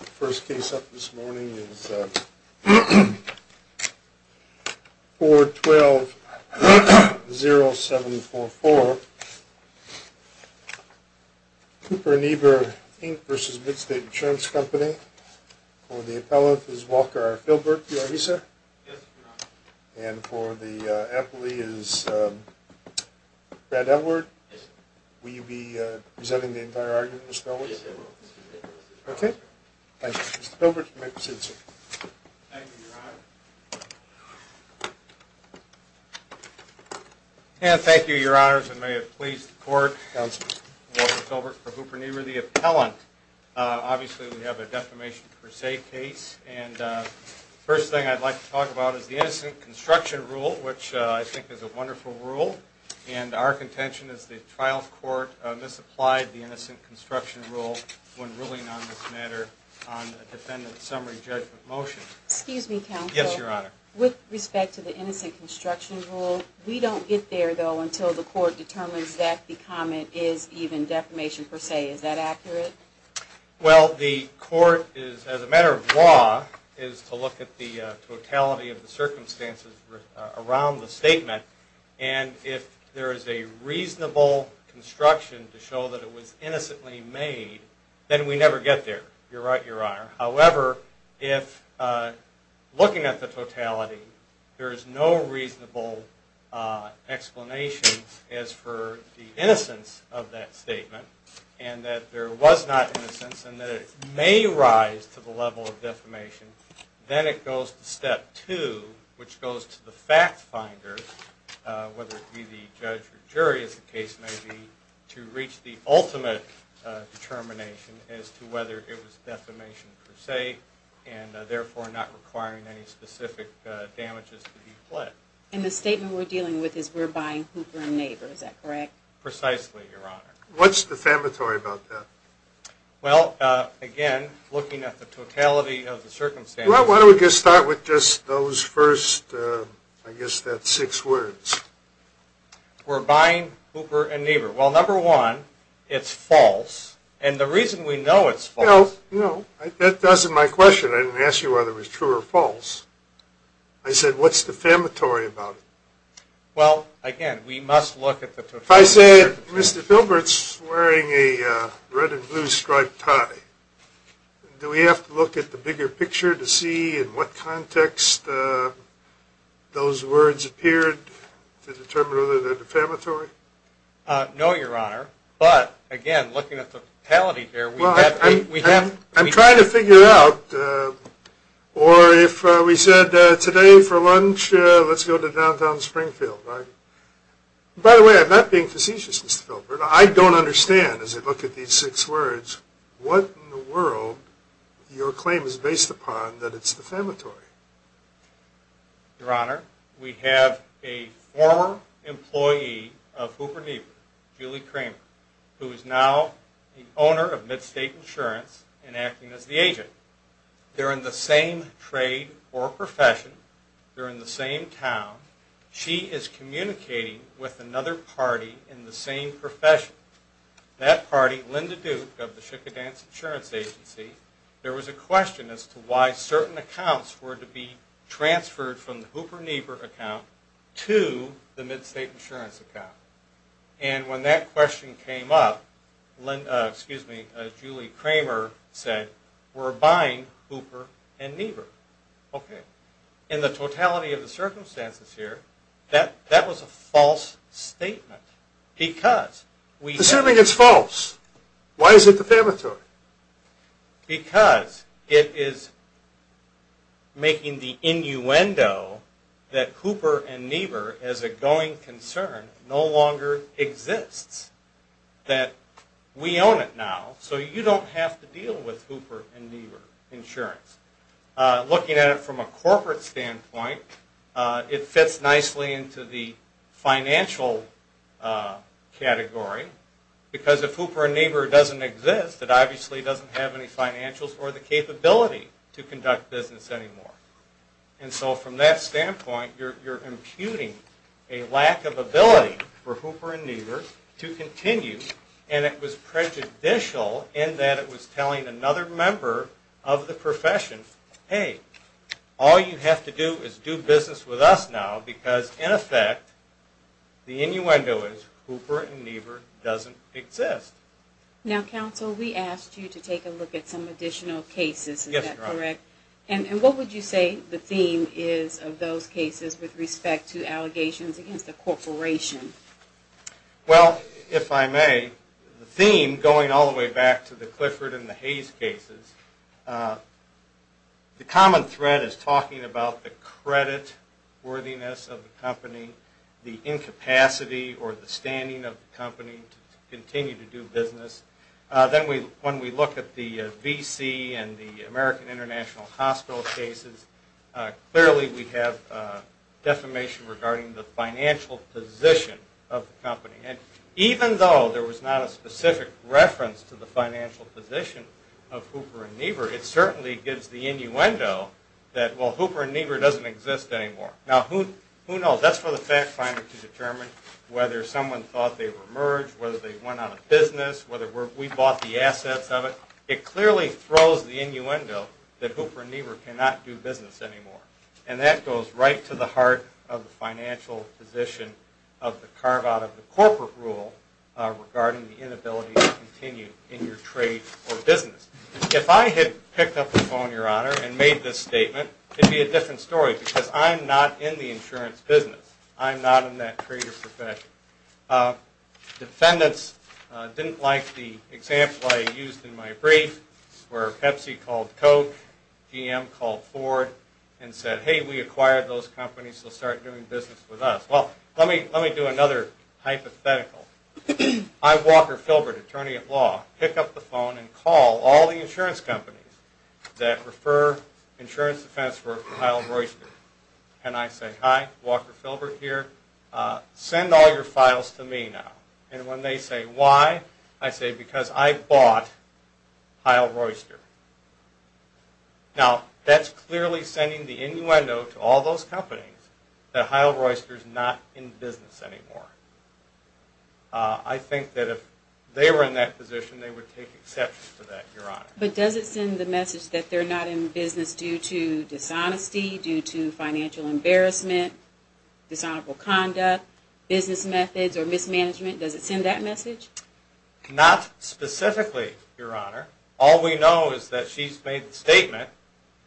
The first case up this morning is 412-0744, Cooper & Niebur, Inc. v. Midsate Insurance Company. For the appellant is Walker R. Philbert. Are you here, sir? Yes, I'm here. And for the appellee is Brad Edward. Yes, sir. Will you be presenting the entire argument, Mr. Edwards? Yes, I will. Okay. Thank you, Mr. Philbert. You may proceed, sir. Thank you, Your Honor. And thank you, Your Honors, and may it please the Court. Counsel. Walker Philbert for Hooper & Niebur. The appellant, obviously, we have a defamation per se case. And the first thing I'd like to talk about is the innocent construction rule, which I think is a wonderful rule. And our contention is the trial court misapplied the innocent construction rule when ruling on this matter on the defendant's summary judgment motion. Excuse me, counsel. Yes, Your Honor. With respect to the innocent construction rule, we don't get there, though, until the court determines that the comment is even defamation per se. Is that accurate? Well, the court is, as a matter of law, is to look at the totality of the circumstances around the statement. And if there is a reasonable construction to show that it was innocently made, then we never get there. However, if looking at the totality, there is no reasonable explanation as for the innocence of that statement, and that there was not innocence, and that it may rise to the level of defamation, then it goes to step two, which goes to the fact finder, whether it be the judge or jury, as the case may be, to reach the ultimate determination as to whether it was defamation per se, and therefore not requiring any specific damages to be fled. And the statement we're dealing with is we're buying Hooper and Naber. Is that correct? Precisely, Your Honor. What's defamatory about that? Well, again, looking at the totality of the circumstances... Well, why don't we just start with just those first, I guess, that's six words. We're buying Hooper and Naber. Well, number one, it's false, and the reason we know it's false... No, no, that wasn't my question. I didn't ask you whether it was true or false. I said, what's defamatory about it? Well, again, we must look at the totality... If I said, Mr. Philbert's wearing a red and blue striped tie, do we have to look at the bigger picture to see in what context those words appeared to determine whether they're defamatory? No, Your Honor. But, again, looking at the totality there, we have to... I'm trying to figure it out. Or if we said, today for lunch, let's go to downtown Springfield. By the way, I'm not being facetious, Mr. Philbert. I don't understand, as I look at these six words, what in the world your claim is based upon that it's defamatory. Your Honor, we have a former employee of Hooper and Naber, Julie Kramer, who is now the owner of MidState Insurance and acting as the agent. They're in the same trade or profession. They're in the same town. She is communicating with another party in the same profession. That party, Linda Duke of the Shickadance Insurance Agency, there was a question as to why certain accounts were to be transferred from the Hooper-Naber account to the MidState Insurance account. And when that question came up, Julie Kramer said, we're buying Hooper and Naber. Okay. In the totality of the circumstances here, that was a false statement. Assuming it's false, why is it defamatory? Because it is making the innuendo that Hooper and Naber as a going concern no longer exists. That we own it now, so you don't have to deal with Hooper and Naber Insurance. Looking at it from a corporate standpoint, it fits nicely into the financial category. Because if Hooper and Naber doesn't exist, it obviously doesn't have any financials or the capability to conduct business anymore. And so from that standpoint, you're imputing a lack of ability for Hooper and Naber to continue, and it was prejudicial in that it was telling another member of the profession, hey, all you have to do is do business with us now, because in effect, the innuendo is Hooper and Naber doesn't exist. Now, counsel, we asked you to take a look at some additional cases. Is that correct? Yes, Your Honor. And what would you say the theme is of those cases with respect to allegations against a corporation? Well, if I may, the theme going all the way back to the Clifford and the Hayes cases, the common thread is talking about the credit worthiness of the company, the incapacity or the standing of the company to continue to do business. Then when we look at the VC and the American International Hospital cases, clearly we have defamation regarding the financial position of the company. And even though there was not a specific reference to the financial position of Hooper and Naber, it certainly gives the innuendo that, well, Hooper and Naber doesn't exist anymore. Now, who knows? That's for the fact finder to determine whether someone thought they were merged, whether they went out of business, whether we bought the assets of it. It clearly throws the innuendo that Hooper and Naber cannot do business anymore. And that goes right to the heart of the financial position of the carve-out of the corporate rule regarding the inability to continue in your trade or business. If I had picked up the phone, Your Honor, and made this statement, it would be a different story because I'm not in the insurance business. I'm not in that trade or profession. Defendants didn't like the example I used in my brief where Pepsi called Coke, GM called Ford, and said, hey, we acquired those companies. They'll start doing business with us. Well, let me do another hypothetical. I, Walker Philbert, attorney at law, pick up the phone and call all the insurance companies that refer insurance defense for Kyle Royster, and I say, hi, Walker Philbert here, send all your files to me now. And when they say why, I say because I bought Kyle Royster. Now, that's clearly sending the innuendo to all those companies that Kyle Royster is not in business anymore. I think that if they were in that position, they would take exception to that, Your Honor. But does it send the message that they're not in business due to dishonesty, due to financial embarrassment, dishonorable conduct, business methods or mismanagement? Does it send that message? Not specifically, Your Honor. All we know is that she's made the statement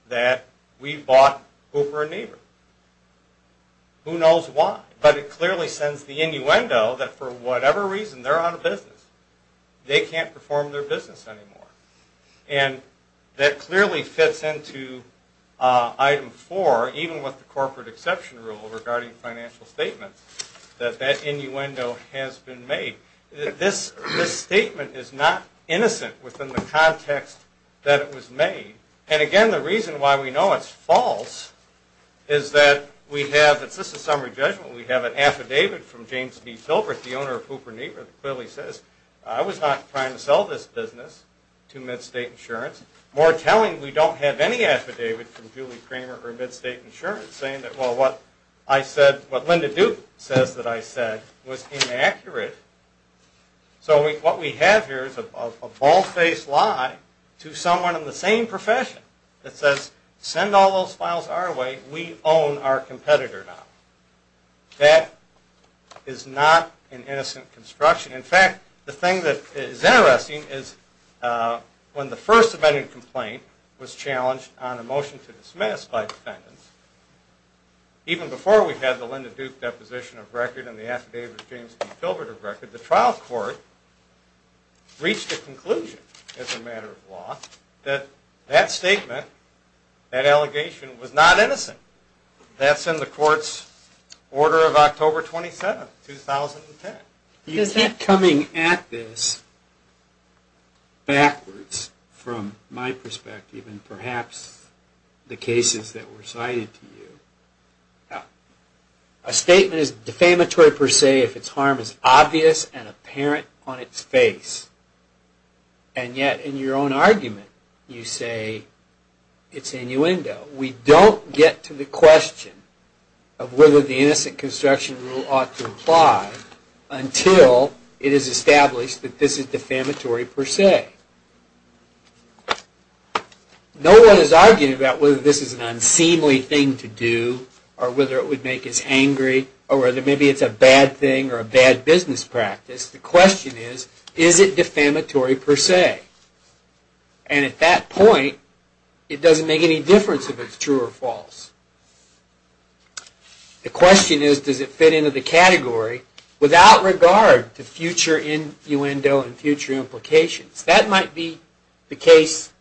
that we bought Hooper and Never. Who knows why? But it clearly sends the innuendo that for whatever reason they're out of business. They can't perform their business anymore. And that clearly fits into item four, even with the corporate exception rule regarding financial statements, that that innuendo has been made. This statement is not innocent within the context that it was made. And, again, the reason why we know it's false is that we have, this is a summary judgment, we have an affidavit from James B. Philbert, the owner of Hooper and Never, that clearly says I was not trying to sell this business to MidState Insurance. More telling, we don't have any affidavit from Julie Kramer or MidState Insurance saying that, well, what I said, what Linda Duke says that I said was inaccurate. So what we have here is a bald-faced lie to someone in the same profession that says send all those files our way. We own our competitor now. That is not an innocent construction. In fact, the thing that is interesting is when the first amended complaint was challenged on a motion to dismiss by defendants, even before we had the Linda Duke deposition of record and the affidavit of James B. Philbert of record, the trial court reached a conclusion as a matter of law that that statement, that allegation, was not innocent. That's in the court's order of October 27, 2010. You keep coming at this backwards from my perspective and perhaps the cases that were cited to you. A statement is defamatory per se if its harm is obvious and apparent on its face, and yet in your own argument you say it's innuendo. We don't get to the question of whether the innocent construction rule ought to apply until it is established that this is defamatory per se. No one is arguing about whether this is an unseemly thing to do, or whether it would make us angry, or whether maybe it's a bad thing or a bad business practice. The question is, is it defamatory per se? And at that point, it doesn't make any difference if it's true or false. The question is, does it fit into the category without regard to future innuendo and future implications? That might be the case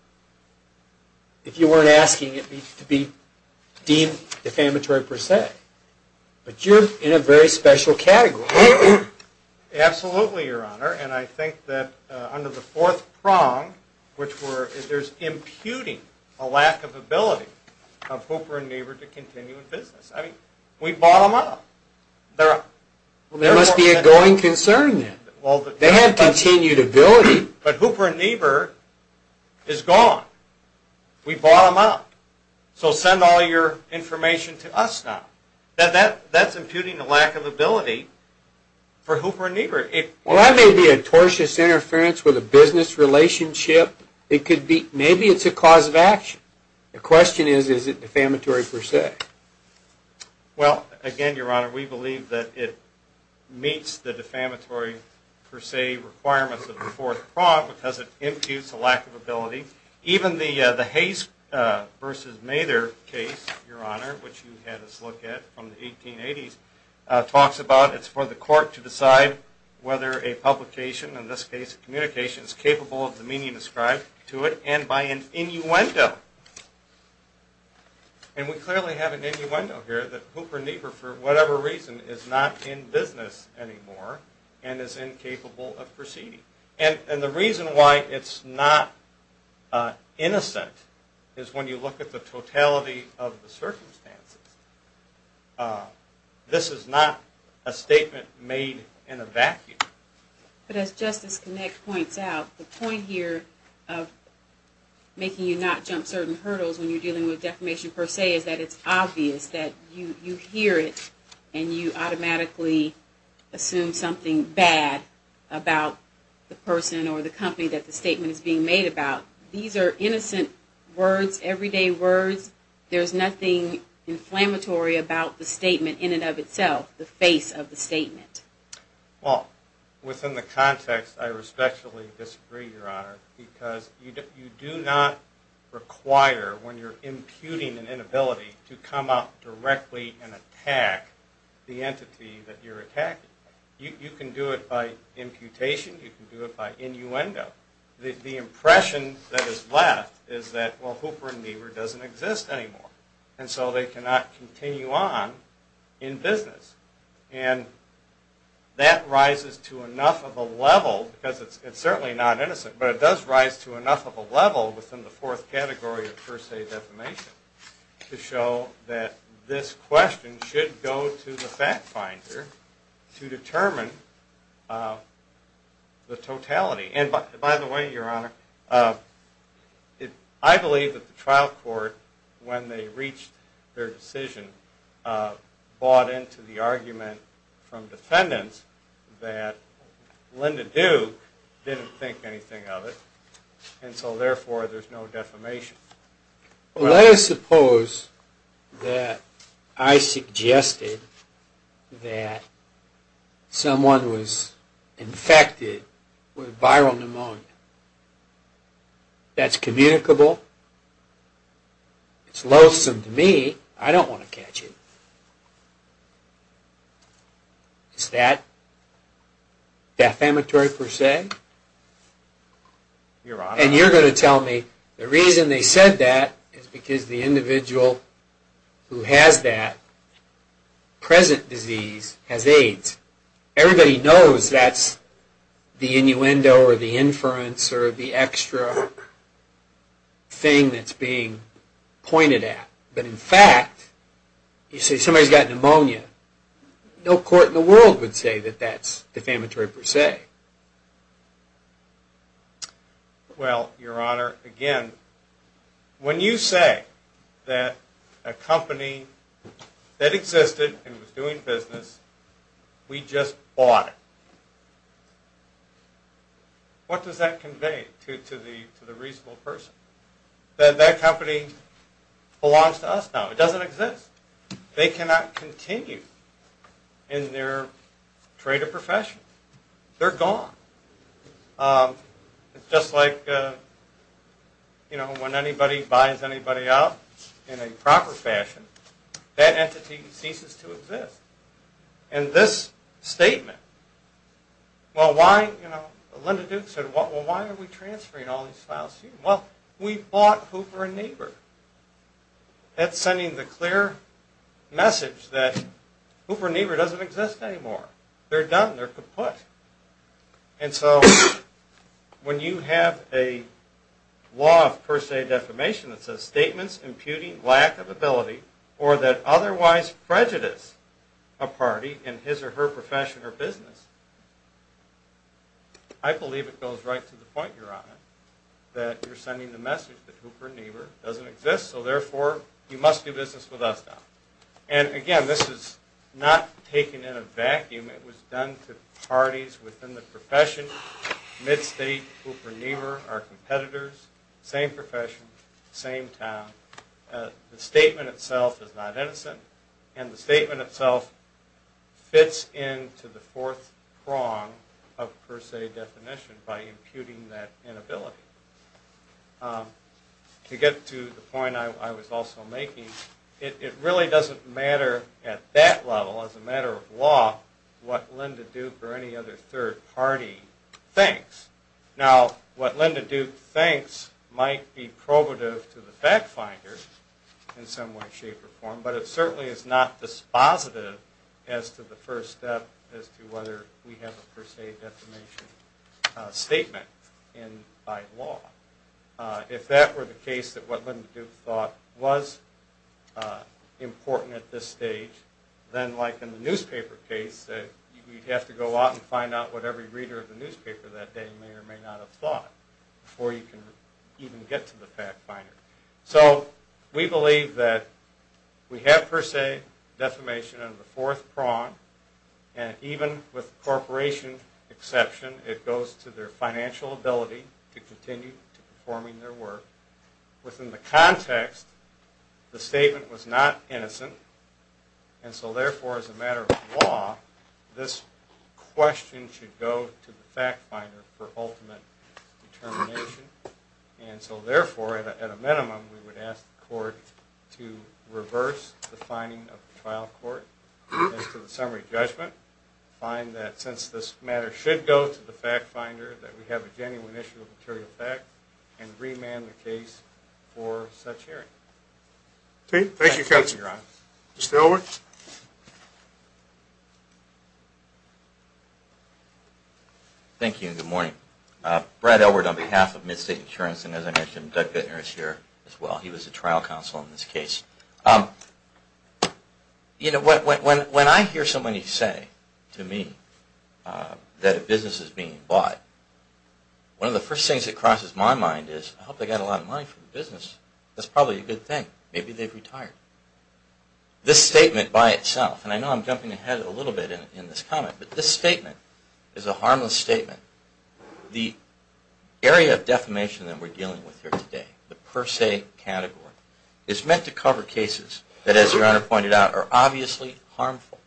if you weren't asking it to be deemed defamatory per se. But you're in a very special category. Absolutely, Your Honor. And I think that under the fourth prong, there's imputing a lack of ability of Hooper and Niebuhr to continue in business. We bought them up. There must be a going concern then. They had continued ability. But Hooper and Niebuhr is gone. We bought them up. So send all your information to us now. That's imputing a lack of ability for Hooper and Niebuhr. Well, that may be a tortious interference with a business relationship. Maybe it's a cause of action. The question is, is it defamatory per se? Well, again, Your Honor, we believe that it meets the defamatory per se requirements of the fourth prong because it imputes a lack of ability. Even the Hayes v. Mather case, Your Honor, which you had us look at from the 1880s, talks about it's for the court to decide whether a publication, in this case a communication, is capable of the meaning described to it and by an innuendo. And we clearly have an innuendo here that Hooper and Niebuhr, for whatever reason, is not in business anymore and is incapable of proceeding. And the reason why it's not innocent is when you look at the totality of the circumstances. This is not a statement made in a vacuum. But as Justice Connick points out, the point here of making you not jump certain hurdles when you're dealing with defamation per se is that it's obvious that you hear it and you automatically assume something bad about the person or the company that the statement is being made about. These are innocent words, everyday words. There's nothing inflammatory about the statement in and of itself, the face of the statement. Well, within the context, I respectfully disagree, Your Honor, because you do not require, when you're imputing an inability, to come up directly and attack the entity that you're attacking. You can do it by imputation. You can do it by innuendo. The impression that is left is that, well, Hooper and Niebuhr doesn't exist anymore, and so they cannot continue on in business. And that rises to enough of a level, because it's certainly not innocent, but it does rise to enough of a level within the fourth category of per se defamation to show that this question should go to the fact finder to determine the totality. And, by the way, Your Honor, I believe that the trial court, when they reached their decision, bought into the argument from defendants that Linda Duke didn't think anything of it, and so, therefore, there's no defamation. Well, let us suppose that I suggested that someone was infected with viral pneumonia. That's communicable. It's loathsome to me. I don't want to catch it. Is that defamatory per se? Your Honor. And you're going to tell me the reason they said that is because the individual who has that present disease has AIDS. Everybody knows that's the innuendo or the inference or the extra thing that's being pointed at. But, in fact, you say somebody's got pneumonia. No court in the world would say that that's defamatory per se. Well, Your Honor, again, when you say that a company that existed and was doing business, we just bought it, what does that convey to the reasonable person? That that company belongs to us now. It doesn't exist. They cannot continue in their trade or profession. They're gone. It's just like, you know, when anybody buys anybody out in a proper fashion, that entity ceases to exist. And this statement, well, why, you know, Linda Duke said, well, why are we transferring all these files to you? Well, we bought Hooper and Neighbor. That's sending the clear message that Hooper and Neighbor doesn't exist anymore. They're done. They're kaput. And so when you have a law of per se defamation that says statements imputing lack of ability or that otherwise prejudice a party in his or her profession or business, I believe it goes right to the point, Your Honor, that you're sending the message that Hooper and Neighbor doesn't exist, so therefore you must do business with us now. And, again, this is not taken in a vacuum. It was done to parties within the profession, mid-state, Hooper and Neighbor, our competitors, same profession, same town. The statement itself is not innocent, and the statement itself fits into the fourth prong of per se defamation by imputing that inability. To get to the point I was also making, it really doesn't matter at that level, as a matter of law, what Linda Duke or any other third party thinks. Now, what Linda Duke thinks might be probative to the fact finder in some way, shape, or form, but it certainly is not dispositive as to the first step as to whether we have a per se defamation statement by law. If that were the case that what Linda Duke thought was important at this stage, then, like in the newspaper case, you'd have to go out and find out what every reader of the newspaper that day may or may not have thought before you can even get to the fact finder. So we believe that we have per se defamation in the fourth prong, and even with corporation exception, it goes to their financial ability to continue performing their work. Within the context, the statement was not innocent, and so therefore, as a matter of law, this question should go to the fact finder for ultimate determination. And so therefore, at a minimum, we would ask the court to reverse the finding of the trial court as to the summary judgment, find that since this matter should go to the fact finder, that we have a genuine issue of material fact, and remand the case for such hearing. Thank you, counsel. Mr. Elwood? Thank you, and good morning. Brad Elwood on behalf of MidState Insurance, and as I mentioned, Doug Bittner is here as well. He was a trial counsel in this case. When I hear somebody say to me that a business is being bought, one of the first things that crosses my mind is, I hope they got a lot of money from the business. That's probably a good thing. Maybe they've retired. This statement by itself, and I know I'm jumping ahead a little bit in this comment, but this statement is a harmless statement. The area of defamation that we're dealing with here today, the per se category, is meant to cover cases that, as Your Honor pointed out, are obviously harmful.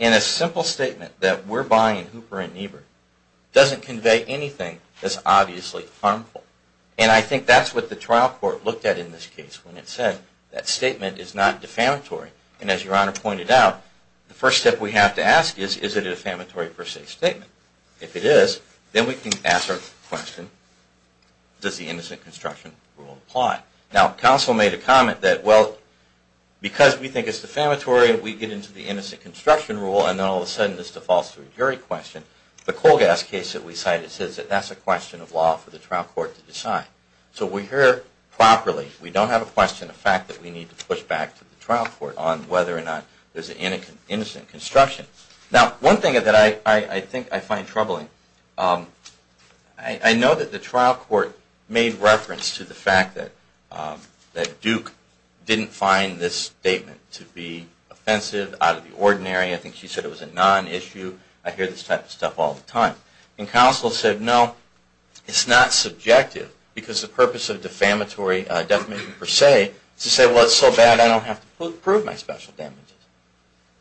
And a simple statement that we're buying Hooper and Niebuhr doesn't convey anything that's obviously harmful. And I think that's what the trial court looked at in this case when it said that statement is not defamatory. And as Your Honor pointed out, the first step we have to ask is, is it a defamatory per se statement? If it is, then we can ask our question, does the innocent construction rule apply? Now, counsel made a comment that, well, because we think it's defamatory, we get into the innocent construction rule, and then all of a sudden this defaults to a jury question. The coal gas case that we cited says that that's a question of law for the trial court to decide. So we hear properly, we don't have a question, a fact that we need to push back to the trial court on whether or not there's innocent construction. Now, one thing that I think I find troubling, I know that the trial court made reference to the fact that Duke didn't find this statement to be offensive, out of the ordinary. I think she said it was a non-issue. I hear this type of stuff all the time. And counsel said, no, it's not subjective, because the purpose of defamatory defamation per se is to say, well, it's so bad I don't have to prove my special damages.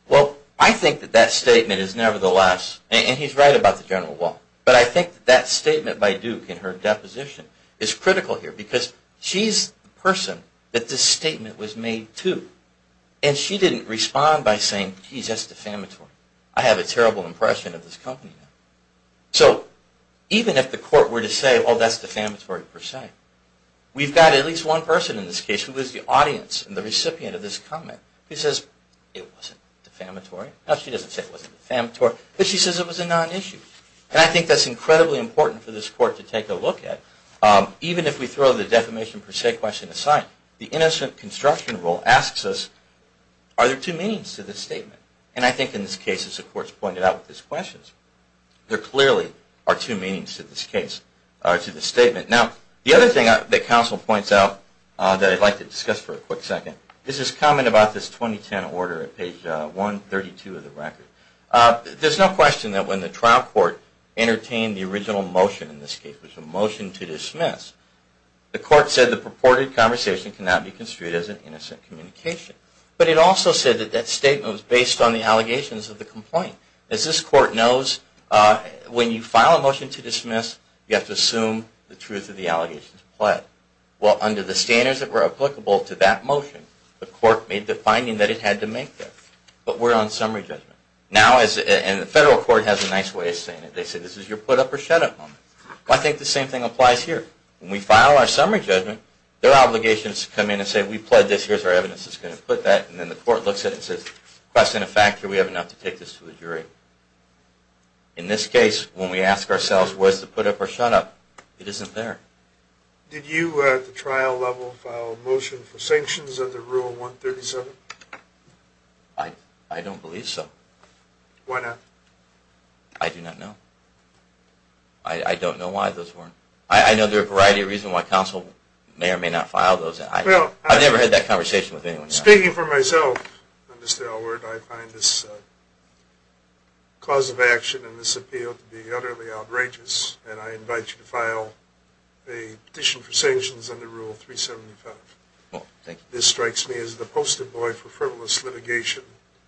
Well, I think that that statement is nevertheless, and he's right about the general law, but I think that statement by Duke in her deposition is critical here, because she's the person that this statement was made to. And she didn't respond by saying, geez, that's defamatory. I have a terrible impression of this company now. So even if the court were to say, well, that's defamatory per se, we've got at least one person in this case, who is the audience and the recipient of this comment, who says, it wasn't defamatory. No, she doesn't say it wasn't defamatory, but she says it was a non-issue. And I think that's incredibly important for this court to take a look at, even if we throw the defamation per se question aside. The innocent construction rule asks us, are there two meanings to this statement? And I think in this case, as the court's pointed out with these questions, there clearly are two meanings to this case, to this statement. Now, the other thing that counsel points out that I'd like to discuss for a quick second is this comment about this 2010 order at page 132 of the record. There's no question that when the trial court entertained the original motion in this case, which was a motion to dismiss, the court said the purported conversation cannot be construed as an innocent communication. But it also said that that statement was based on the allegations of the complaint. As this court knows, when you file a motion to dismiss, you have to assume the truth of the allegations applied. Well, under the standards that were applicable to that motion, the court made the finding that it had to make that. But we're on summary judgment. And the federal court has a nice way of saying it. They say, this is your put-up-or-shut-up moment. Well, I think the same thing applies here. When we file our summary judgment, their obligation is to come in and say, we pled this. Here's our evidence that's going to put that. And then the court looks at it and says, question of fact, do we have enough to take this to the jury? In this case, when we ask ourselves where's the put-up-or-shut-up, it isn't there. Did you, at the trial level, file a motion for sanctions under Rule 137? I don't believe so. Why not? I do not know. I don't know why those weren't. I know there are a variety of reasons why counsel may or may not file those. I've never had that conversation with anyone. Speaking for myself, Mr. Elwood, I find this cause of action and this appeal to be utterly outrageous. And I invite you to file a petition for sanctions under Rule 375. This strikes me as the post-it boy for frivolous litigation.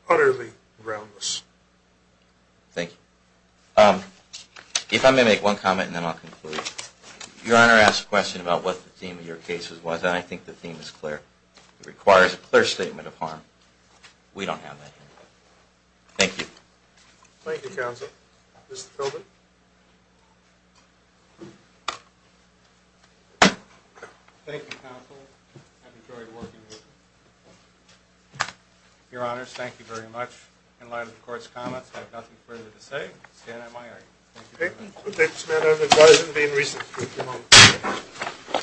Utterly groundless. Thank you. If I may make one comment, and then I'll conclude. Your Honor asked a question about what the theme of your case was, and I think the theme is clear. It requires a clear statement of harm. We don't have that here. Thank you. Thank you, counsel. Mr. Philbin. Thank you, counsel. I've enjoyed working with you. Your Honors, thank you very much. In light of the Court's comments, I have nothing further to say. I stand at my argument. Thank you, counsel. Thank you, Mr. Chairman. I would advise him to be in recess for a few moments.